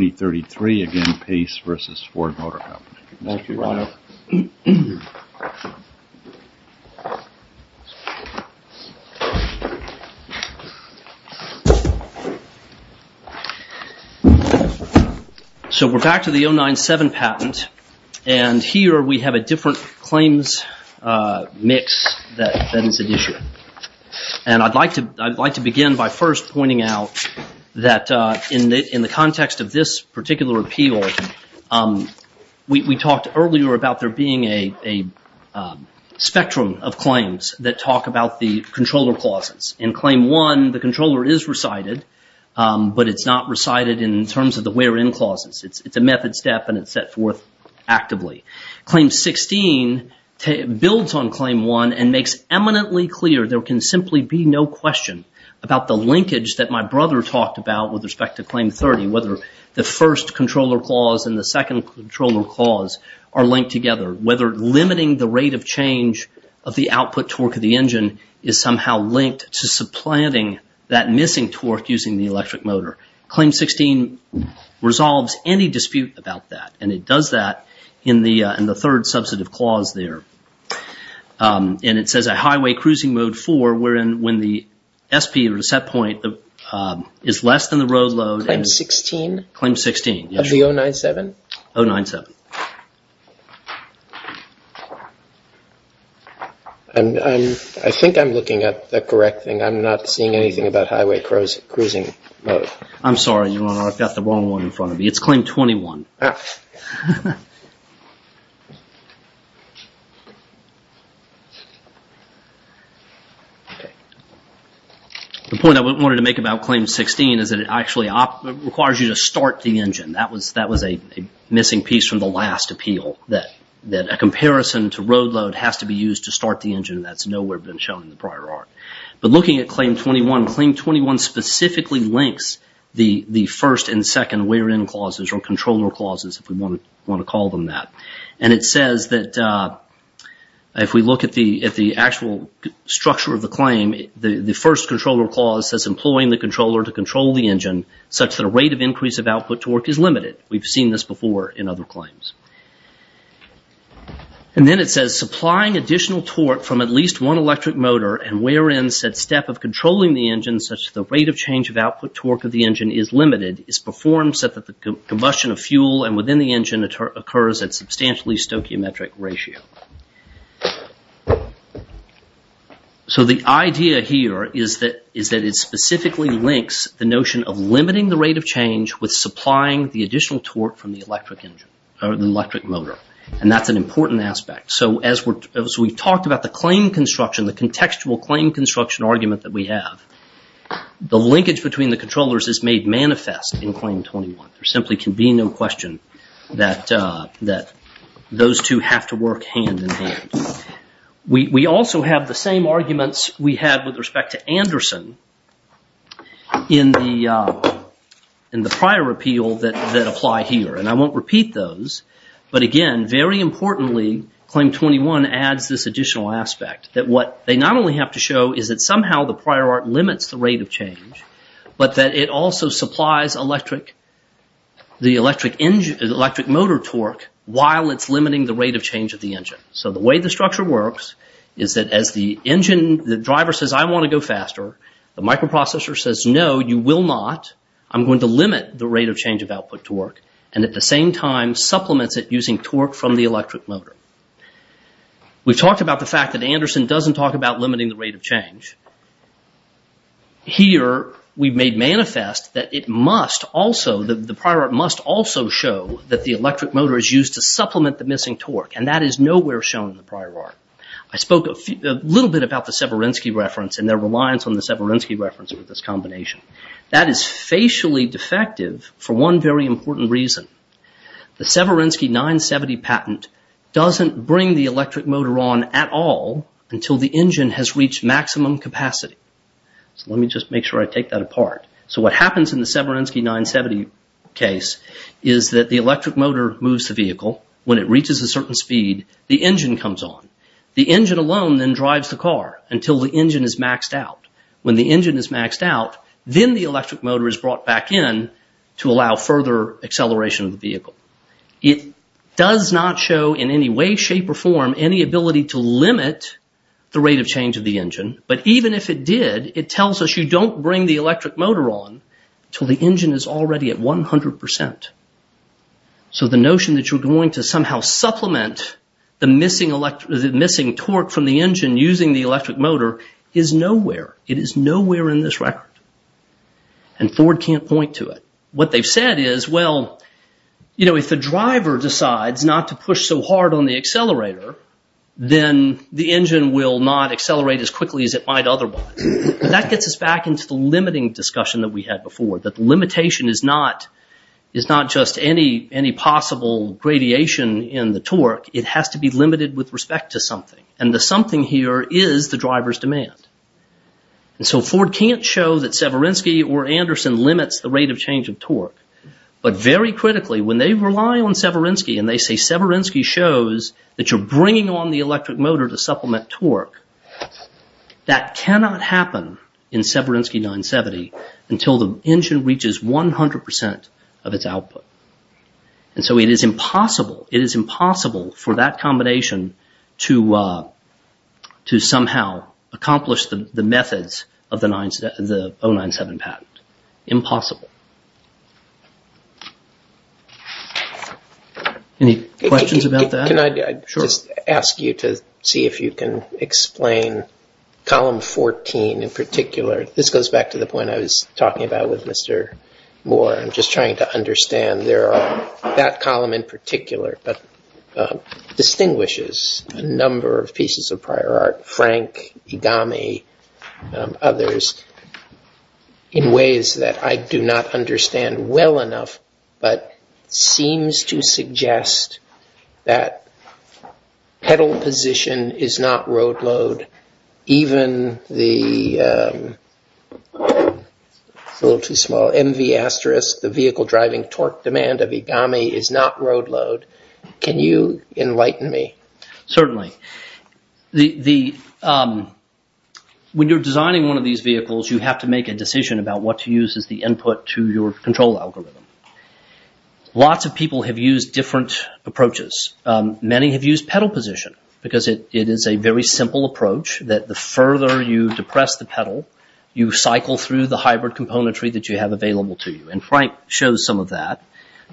Again, Pace versus Ford Motor Company. So we're back to the 097 patent, and here we have a different claims mix that is at issue. And I'd like to begin by first pointing out that in the context of this particular appeal, we talked earlier about there being a spectrum of claims that talk about the controller clauses. In Claim 1, the controller is recited, but it's not recited in terms of the wherein clauses. It's a method step and it's set forth actively. Claim 16 builds on Claim 1 and makes eminently clear there can simply be no question about the linkage that my brother talked about with respect to Claim 30, whether the first controller clause and the second controller clause are linked together, whether limiting the rate of change of the output torque of the engine is somehow linked to supplanting that missing torque using the electric motor. Claim 16 resolves any dispute about that, and it does that in the third substantive clause there. And it says a highway cruising mode for when the SP or the set point is less than the road load. Claim 16? Claim 16, yes. Of the 097? 097. I think I'm looking at the correct thing. I'm not seeing anything about highway cruising mode. I'm sorry, Your Honor. I've got the wrong one in front of me. It's Claim 21. Okay. The point I wanted to make about Claim 16 is that it actually requires you to start the engine. That was a missing piece from the last appeal, that a comparison to road load has to be used to start the engine. That's nowhere been shown in the prior art. But looking at Claim 21, Claim 21 specifically links the first and second wear-in clauses or controller clauses, if we want to call them that. And it says that if we look at the actual structure of the claim, the first controller clause says employing the controller to control the engine such that a rate of increase of output torque is limited. We've seen this before in other claims. And then it says supplying additional torque from at least one electric motor and wear-in said step of controlling the engine such that the rate of change of output torque of the engine is limited is performed such that the combustion of fuel and within the engine occurs at substantially stoichiometric ratio. So the idea here is that it specifically links the notion of limiting the rate of change with supplying the additional torque from the electric motor. And that's an important aspect. So as we've talked about the claim construction, the contextual claim construction argument that we have, the linkage between the controllers is made manifest in Claim 21. There simply can be no question that those two have to work hand in hand. We also have the same arguments we had with respect to Anderson in the prior repeal that apply here. And I won't repeat those. But again, very importantly, Claim 21 adds this additional aspect that what they not only have to show is that somehow the prior art limits the rate of change, but that it also supplies the electric motor torque while it's limiting the rate of change of the engine. So the way the structure works is that as the engine, the driver says, I want to go faster, the microprocessor says, no, you will not. I'm going to limit the rate of change of output torque and at the same time supplements it using torque from the electric motor. We've talked about the fact that Anderson doesn't talk about limiting the rate of change. Here we've made manifest that it must also, that the prior art must also show that the electric motor is used to supplement the missing torque. And that is nowhere shown in the prior art. I spoke a little bit about the Severinsky reference and their reliance on the Severinsky reference with this combination. That is facially defective for one very important reason. The Severinsky 970 patent doesn't bring the electric motor on at all until the engine has reached maximum capacity. So let me just make sure I take that apart. So what happens in the Severinsky 970 case is that the electric motor moves the vehicle. When it reaches a certain speed, the engine comes on. The engine alone then drives the car until the engine is maxed out. When the engine is maxed out, then the electric motor is brought back in to allow further acceleration of the vehicle. It does not show in any way, shape, or form any ability to limit the rate of change of the engine. But even if it did, it tells us you don't bring the electric motor on until the engine is already at 100%. So the notion that you're going to somehow supplement the missing torque from the engine using the electric motor is nowhere. It is nowhere in this record. And Ford can't point to it. What they've said is, well, you know, if the driver decides not to push so hard on the accelerator, then the engine will not accelerate as quickly as it might otherwise. That gets us back into the limiting discussion that we had before. That the limitation is not just any possible radiation in the torque. It has to be limited with respect to something. And the something here is the driver's demand. And so Ford can't show that Severinsky or Anderson limits the rate of change of torque. But very critically, when they rely on Severinsky and they say Severinsky shows that you're bringing on the electric motor to supplement torque, that cannot happen in Severinsky 970 until the engine reaches 100% of its output. And so it is impossible. It is impossible for that combination to somehow accomplish the methods of the 097 patent. Impossible. Any questions about that? Can I just ask you to see if you can explain column 14 in particular? This goes back to the point I was talking about with Mr. Moore. I'm just trying to understand. There are that column in particular that distinguishes a number of pieces of prior art, Frank, Igami, others, in ways that I do not understand well enough, but seems to suggest that pedal position is not road load, even the little too small MV asterisk, the vehicle driving torque demand of Igami is not road load. Can you enlighten me? Certainly. When you're designing one of these vehicles, you have to make a decision about what to use as the input to your control algorithm. Lots of people have used different approaches. Many have used pedal position because it is a very simple approach that the further you depress the pedal, you cycle through the hybrid componentry that you have available to you. And Frank shows some of that.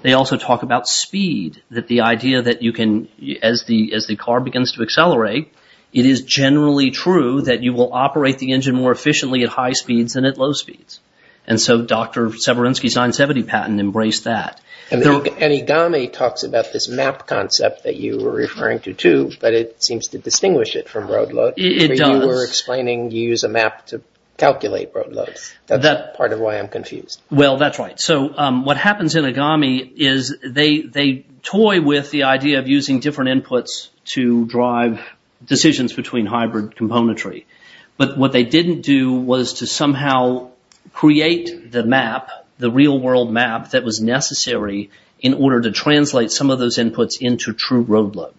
They also talk about speed, that the idea that you can, as the car begins to accelerate, it is generally true that you will operate the engine more efficiently at high speeds than at low speeds. And so Dr. Severinsky's 970 patent embraced that. And Igami talks about this map concept that you were referring to too, but it seems to distinguish it from road load. It does. You were explaining you use a map to calculate road load. That's part of why I'm confused. Well, that's right. So what happens in Igami is they toy with the idea of using different inputs to drive decisions between hybrid componentry. But what they didn't do was to somehow create the map, the real world map, that was necessary in order to translate some of those inputs into true road load.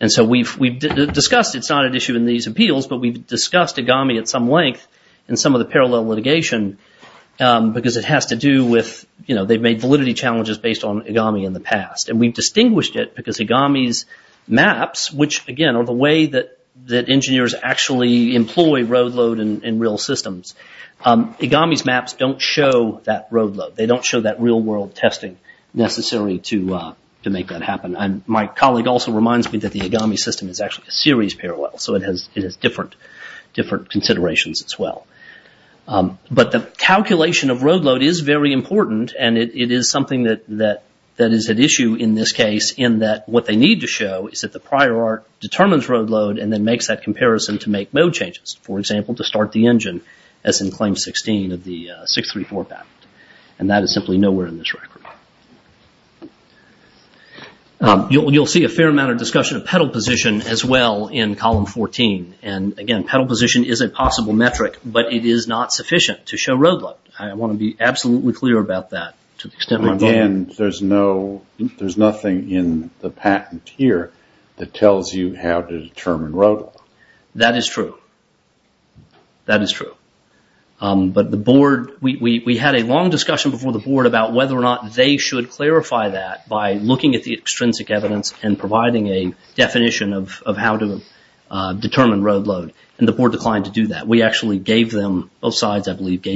And so we've discussed, it's not an issue in these appeals, but we've discussed Igami at some length in some of the parallel litigation because it has to do with, you know, they've made validity challenges based on Igami in the past. And we've distinguished it because Igami's maps, which again are the way that engineers actually employ road load in real systems, Igami's maps don't show that road load. They don't show that real world testing necessary to make that happen. My colleague also reminds me that the Igami system is actually a series parallel, so it has different considerations as well. But the calculation of road load is very important and it is something that is at issue in this case in that what they need to show is that the prior art determines road load and then makes that comparison to make mode changes. For example, to start the engine as in claim 16 of the 634 patent. And that is simply nowhere in this record. You'll see a fair amount of discussion of pedal position as well in column 14. And again, pedal position is a possible metric, but it is not sufficient to show road load. I want to be absolutely clear about that. Again, there's nothing in the patent here that tells you how to determine road load. That is true. That is true. But the board, we had a long discussion before the board about whether or not they should clarify that by looking at the extrinsic evidence and providing a definition of how to determine road load. And the board declined to do that. We actually gave them, both sides I believe,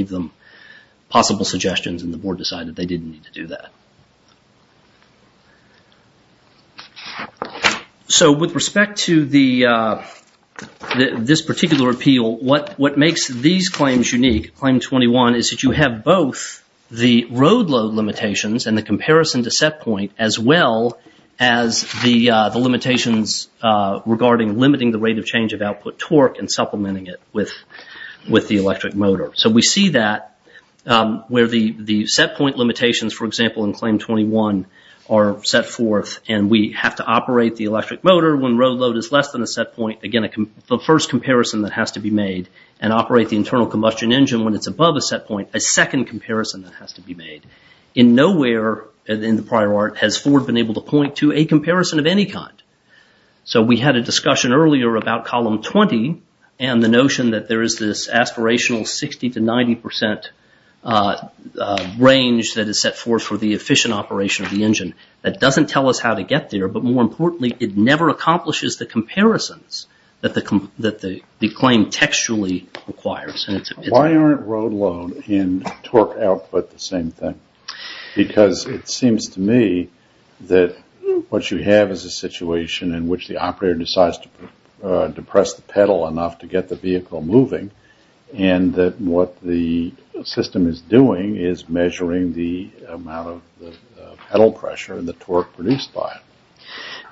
possible suggestions and the board decided they didn't need to do that. So with respect to this particular appeal, what makes these claims unique, claim 21, is that you have both the road load limitations and the comparison to set point as well as the limitations regarding limiting the rate of change of output torque and supplementing it with the electric motor. So we see that where the set point limitations, for example, in claim 21 are set forth and we have to operate the electric motor when road load is less than a set point. Again, the first comparison that has to be made and operate the internal combustion engine when it's above a set point, a second comparison that has to be made. In nowhere in the prior art has Ford been able to point to a comparison of any kind. So we had a discussion earlier about column 20 and the notion that there is this aspirational 60 to 90 percent range that is set forth for the efficient operation of the engine that doesn't tell us how to get there. But more importantly, it never accomplishes the comparisons that the claim textually requires. Why aren't road load and torque output the same thing? Because it seems to me that what you have is a situation in which the operator decides to depress the pedal enough to get the vehicle moving and what the system is doing is measuring the amount of pedal pressure and the torque produced by it.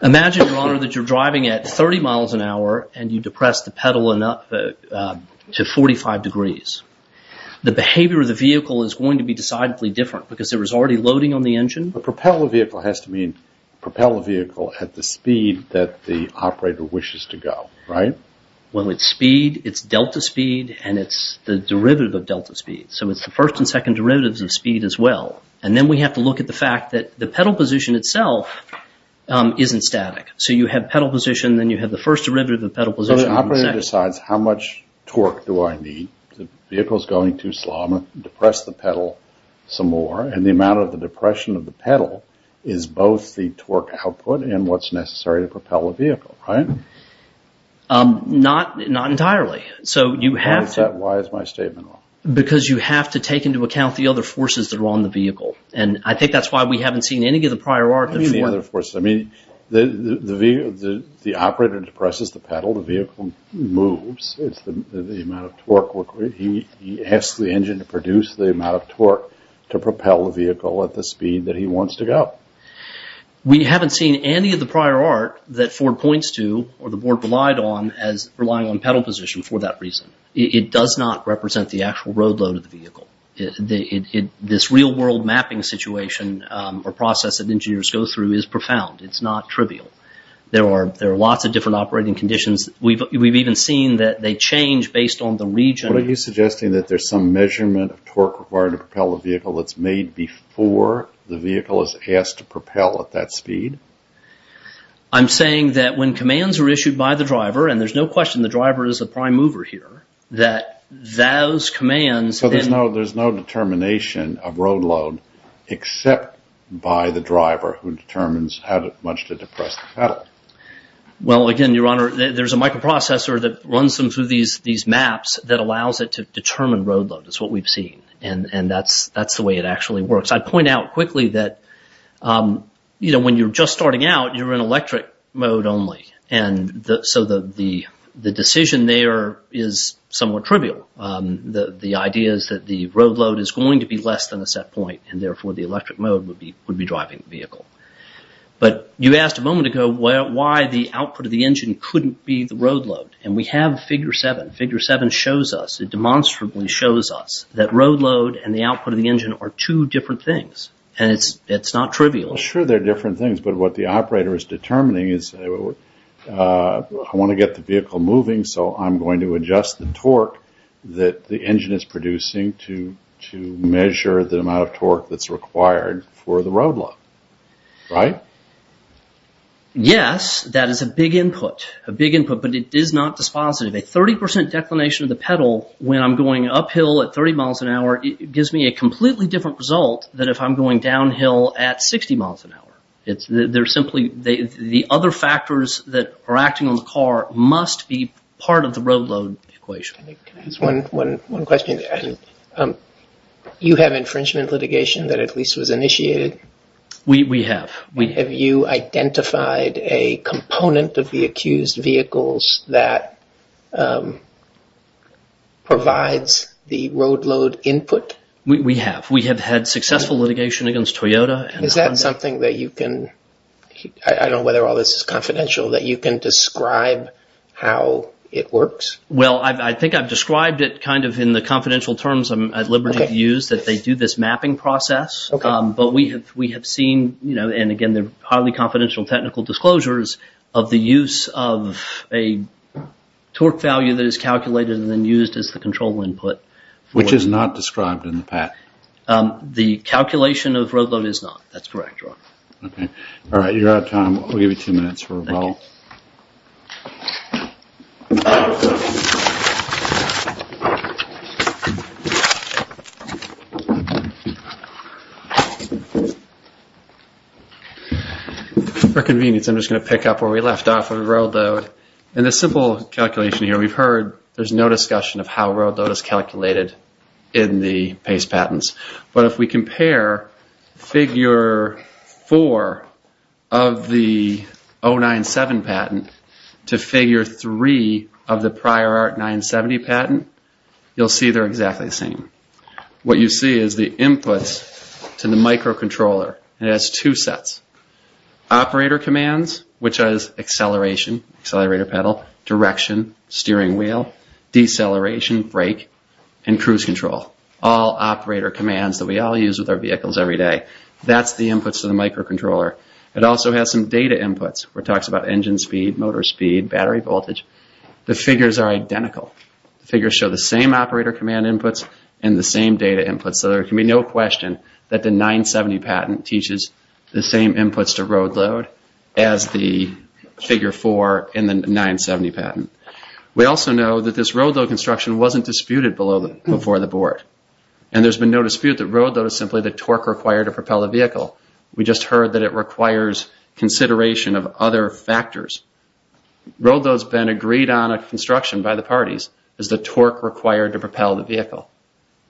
Imagine, your honor, that you're driving at 30 miles an hour and you depress the pedal enough to 45 degrees. The behavior of the vehicle is going to be decidedly different because there is already loading on the engine. Propel the vehicle has to mean propel the vehicle at the speed that the operator wishes to go, right? Well, it's speed, it's delta speed, and it's the derivative of delta speed. So it's the first and second derivatives of speed as well. And then we have to look at the fact that the pedal position itself isn't static. So you have pedal position, then you have the first derivative of pedal position. So the operator decides how much torque do I need? The vehicle is going too slow. I'm going to depress the pedal some more. And the amount of the depression of the pedal is both the torque output and what's necessary to propel the vehicle, right? Not entirely. So you have to... Why is that? Why is my statement wrong? Because you have to take into account the other forces that are on the vehicle. And I think that's why we haven't seen any of the prior work. What do you mean the other forces? I mean, the operator depresses the pedal, the vehicle moves. It's the amount of torque. He has the engine to produce the amount of torque to propel the vehicle at the speed that he wants to go. We haven't seen any of the prior art that Ford points to or the board relied on as relying on pedal position for that reason. It does not represent the actual road load of the vehicle. This real-world mapping situation or process that engineers go through is profound. It's not trivial. There are lots of different operating conditions. We've even seen that they change based on the region. What are you suggesting? That there's some measurement of torque required to propel the vehicle that's made before the vehicle is asked to propel at that speed? I'm saying that when commands are issued by the driver, and there's no question the driver is the prime mover here, that those commands... So there's no determination of road load except by the driver who determines how much to depress the pedal. Well, again, Your Honor, there's a microprocessor that runs them through these maps that allows it to determine road load. It's what we've seen. And that's the way it actually works. I'd point out quickly that when you're just starting out, you're in electric mode only. And so the decision there is somewhat trivial. The idea is that the road load is going to be less than a set point, and therefore the electric mode would be driving the vehicle. But you asked a moment ago why the output of the engine couldn't be the road load. And we have figure seven. Figure seven shows us, it demonstrably shows us, that road load and the output of the engine are two different things. And it's not trivial. Sure, they're different things. But what the operator is determining is, I want to get the vehicle moving, so I'm going to adjust the torque that the engine is producing to measure the amount of torque that's required for the road load. Right? Yes, that is a big input. A big input, but it is not dispositive. A 30% declination of the pedal when I'm going uphill at 30 miles an hour, it gives me a completely different result than if I'm going downhill at 60 miles an hour. They're simply, the other factors that are acting on the car must be part of the road load equation. Can I ask one question? You have infringement litigation that at least was initiated? We have. Have you identified a component of the accused vehicles that provides the road load input? We have. We have had successful litigation against Toyota. Is that something that you can, I don't know whether all this is confidential, that you can describe how it works? Well, I think I've described it kind of in the confidential terms I'm at liberty to use, that they do this mapping process. But we have seen, and again, they're highly confidential technical disclosures of the use of a torque value that is calculated and then used as the control input. Which is not described in the patent? The calculation of road load is not. That's correct, Ron. Okay. All right. You're out of time. We'll give you two minutes for rebuttal. For convenience, I'm just going to pick up where we left off on road load. In this simple calculation here, we've heard there's no discussion of how road load is calculated in the PACE patents. But if we compare figure four of the 097 patent to figure three of the prior art 970 patent, you'll see they're exactly the same. What you see is the inputs to the microcontroller. It has two sets. Operator commands, which has acceleration, accelerator pedal, direction, steering wheel, deceleration, brake, and cruise control. All operator commands that we all use with our vehicles every day. That's the inputs to the microcontroller. It also has some data inputs, where it talks about engine speed, motor speed, battery voltage. The figures are identical. The figures show the same operator command inputs, the same data inputs. So there can be no question that the 970 patent teaches the same inputs to road load as the figure four in the 970 patent. We also know that this road load construction wasn't disputed before the board. And there's been no dispute that road load is simply the torque required to propel a vehicle. We just heard that it requires consideration of other factors. Road load's been agreed on a construction by the parties as the torque required to propel the vehicle.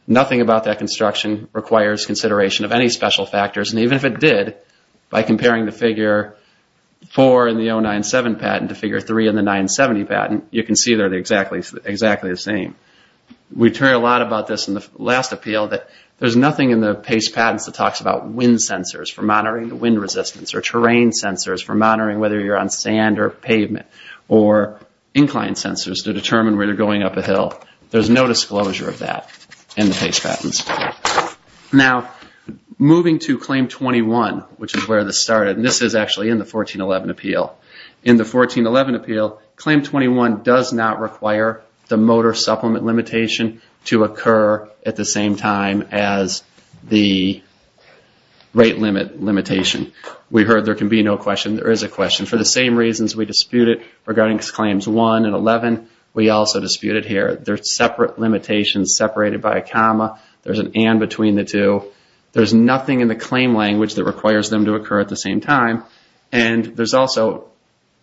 Nothing about that construction requires consideration of any special factors. And even if it did, by comparing the figure four in the 097 patent to figure three in the 970 patent, you can see they're exactly the same. We've heard a lot about this in the last appeal that there's nothing in the PACE patents that talks about wind sensors for monitoring the wind resistance, or terrain sensors for monitoring whether you're on sand or pavement, or incline sensors to determine where you're going up a hill. There's no disclosure of that. In the PACE patents. Now, moving to Claim 21, which is where this started, and this is actually in the 1411 appeal. In the 1411 appeal, Claim 21 does not require the motor supplement limitation to occur at the same time as the rate limit limitation. We heard there can be no question. There is a question. For the same reasons we disputed regarding Claims 1 and 11, we also disputed here. They're separate limitations separated by a comma. There's an and between the two. There's nothing in the claim language that requires them to occur at the same time. And there's also,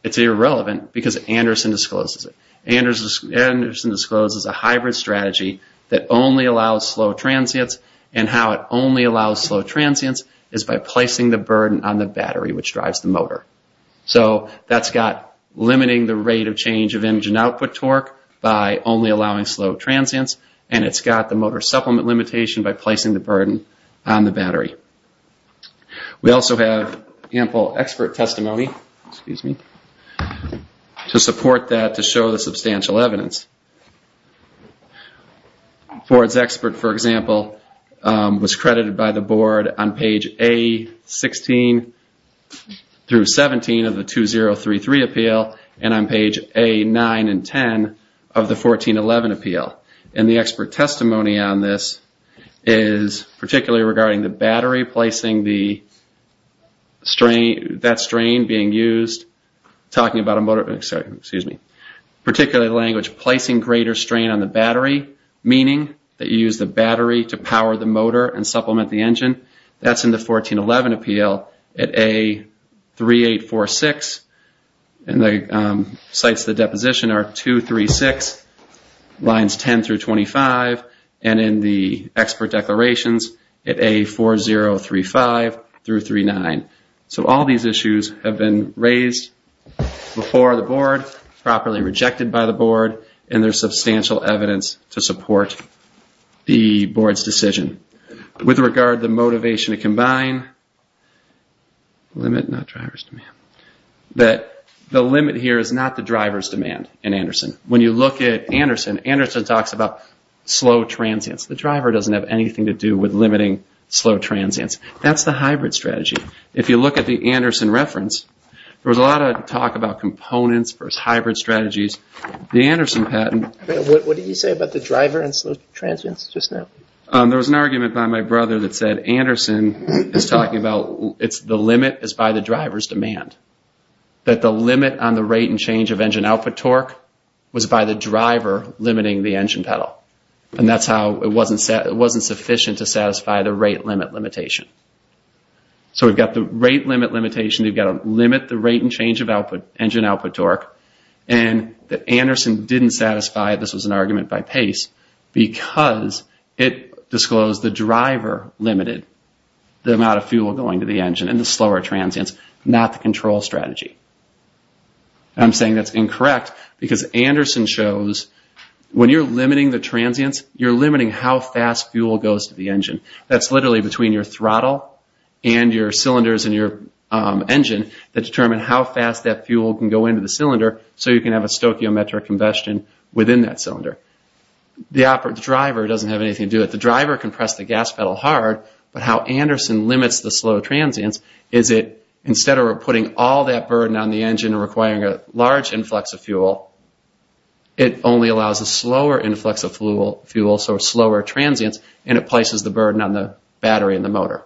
it's irrelevant because Anderson discloses it. Anderson discloses a hybrid strategy that only allows slow transients, and how it only allows slow transients is by placing the burden on the battery which drives the motor. So that's got limiting the rate of change of engine output torque by only allowing slow transients, and it's got the motor supplement limitation by placing the burden on the battery. We also have ample expert testimony, excuse me, to support that to show the substantial evidence. Ford's expert, for example, was credited by the board on page A16 through 17 of the 2033 appeal and on page A9 and 10 of the 1411 appeal. And the expert testimony on this is particularly regarding the battery, placing the strain, that strain being used, talking about a motor, excuse me, particularly language placing greater strain on the battery, meaning that you use the battery to power the motor and supplement the engine. That's in the 1411 appeal at A3846, and the sites of the deposition are 236, lines 10 through 25, and in the expert declarations at A4035 through 39. So all these issues have been raised before the board, properly rejected by the board, and there's substantial evidence to support the board's decision. With regard to motivation to combine, limit, not driver's demand, that the limit here is not the driver's demand. When you look at Anderson, Anderson talks about slow transients. The driver doesn't have anything to do with limiting slow transients. That's the hybrid strategy. If you look at the Anderson reference, there was a lot of talk about components versus hybrid strategies. What did you say about the driver and slow transients just now? There was an argument by my brother that said Anderson is talking about it's the limit is by the driver's demand. That the limit on the rate and change of engine output torque was by the driver limiting the engine pedal. And that's how it wasn't sufficient to satisfy the rate limit limitation. So we've got the rate limit limitation. You've got to limit the rate and change of engine output torque. And that Anderson didn't satisfy, this was an argument by Pace, because it disclosed the driver limited the amount of fuel going to the engine and the slower transients, not the control strategy. And I'm saying that's incorrect because Anderson shows when you're limiting the transients, you're limiting how fast fuel goes to the engine. That's literally between your throttle and your cylinders and your engine that determine how fast that fuel can go into the cylinder so you can have a stoichiometric combustion within that cylinder. The driver doesn't have anything to do it. The driver can press the gas pedal hard, but how Anderson limits the slow transients is it instead of putting all that burden on the engine requiring a large influx of fuel, it only allows a slower influx of fuel, so slower transients, and it places the burden on the battery in the motor.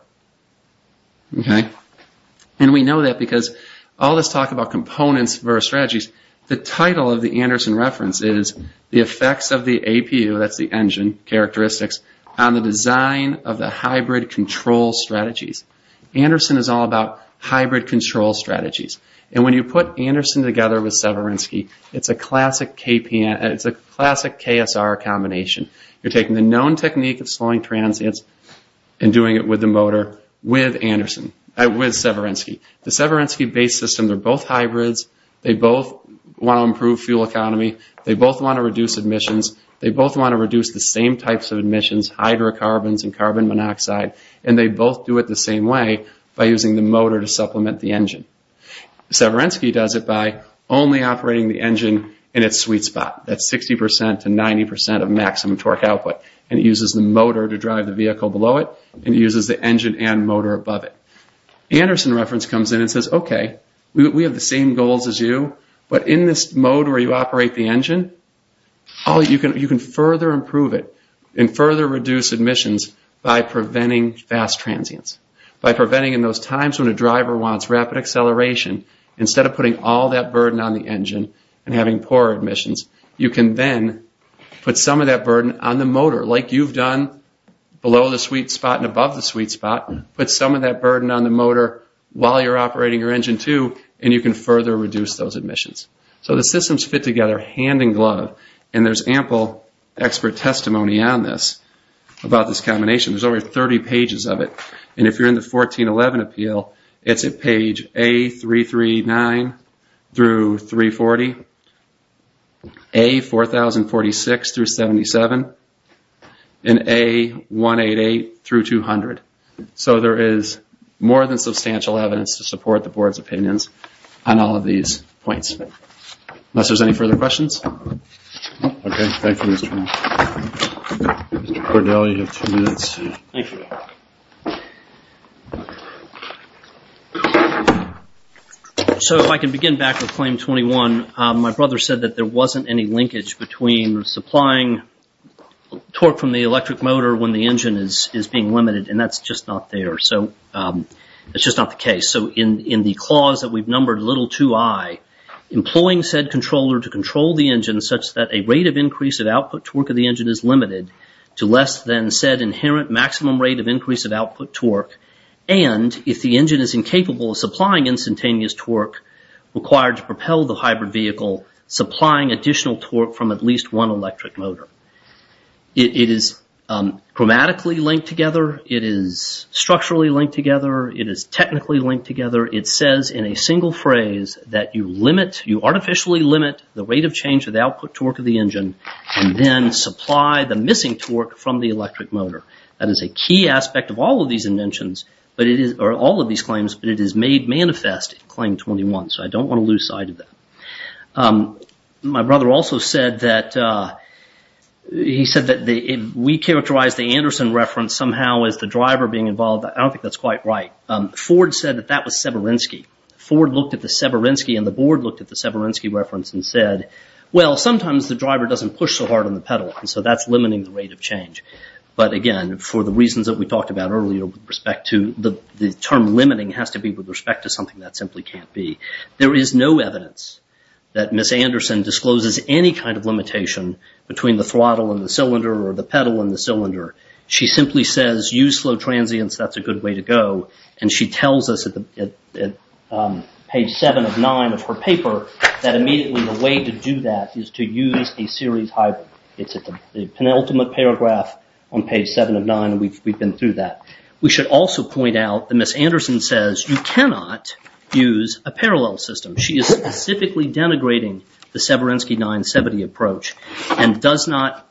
And we know that because all this talk about components versus strategies, the title of the Anderson reference is the effects of the APU, that's the engine characteristics, on the design of the hybrid control strategies. Anderson is all about hybrid control strategies. And when you put Anderson together with Severinsky, it's a classic KSR combination. You're taking the known technique of slowing transients and doing it with the motor with Severinsky. The Severinsky base system, they're both hybrids, they both want to improve fuel economy, they both want to reduce emissions, they both want to reduce the same types of emissions, hydrocarbons and carbon monoxide, and they both do it the same way by using the motor to supplement the engine. Severinsky does it by only operating the engine in its sweet spot, that 60% to 90% of maximum torque output, and it uses the motor to drive the vehicle below it, and it uses the engine and motor above it. Anderson reference comes in and says, okay, we have the same goals as you, but in this mode where you operate the engine, you can further improve it and further reduce emissions by preventing fast transients, by preventing in those times when a driver wants rapid acceleration, instead of putting all that burden on the engine and having poor emissions, you can then put some of that burden on the motor, like you've done below the sweet spot and above the sweet spot, put some of that burden on the motor while you're operating your engine too, and you can further reduce those emissions. So the systems fit together hand in glove, and there's ample expert testimony on this about this combination. There's over 30 pages of it, and if you're in the 1411 appeal, it's at page A339 through 340, A4046 through 77, and A188 through 200. So there is more than substantial evidence to support the board's opinions on all of these points. Unless there's any further questions. Okay, thank you, Mr. Brown. Mr. Cordell, you have two minutes. Okay. So if I can begin back with Claim 21. My brother said that there wasn't any linkage between supplying torque from the electric motor when the engine is being limited, and that's just not there. So that's just not the case. So in the clause that we've numbered little to I, employing said controller to control the engine such that a rate of increase at output torque of the engine is limited to less than said inherent maximum rate of increase of output torque, and if the engine is incapable of supplying instantaneous torque required to propel the hybrid vehicle supplying additional torque from at least one electric motor. It is chromatically linked together. It is structurally linked together. It is technically linked together. It says in a single phrase that you limit, you artificially limit the rate of change of the output torque of the engine and then supply the missing torque from the electric motor. That is a key aspect of all of these inventions, but it is, or all of these claims, but it is made manifest in Claim 21, so I don't want to lose sight of that. My brother also said that, he said that we characterized the Anderson reference somehow as the driver being involved. I don't think that's quite right. Ford said that that was Severinsky. Ford looked at the Severinsky and the board looked at the Severinsky reference and said, well, sometimes the driver doesn't push so hard on the pedal, and so that's limiting the rate of change. But again, for the reasons that we talked about earlier, with respect to the term limiting has to be with respect to something that simply can't be. There is no evidence that Ms. Anderson discloses any kind of limitation between the throttle and the cylinder or the pedal and the cylinder. She simply says, use slow transients, that's a good way to go. And she tells us at page seven of nine of her paper that immediately the way to do that is to use a series hybrid. It's the penultimate paragraph on page seven of nine, and we've been through that. We should also point out that Ms. Anderson says you cannot use a parallel system. She is specifically denigrating the Severinsky 970 approach and does not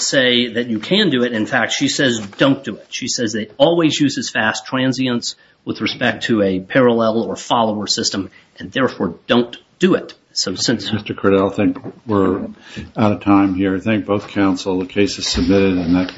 say that you can do it. In fact, she says don't do it. She says they always use as fast transients with respect to a parallel or follower system and therefore don't do it. Mr. Criddle, I think we're out of time here. I thank both counsel. The case is submitted and that.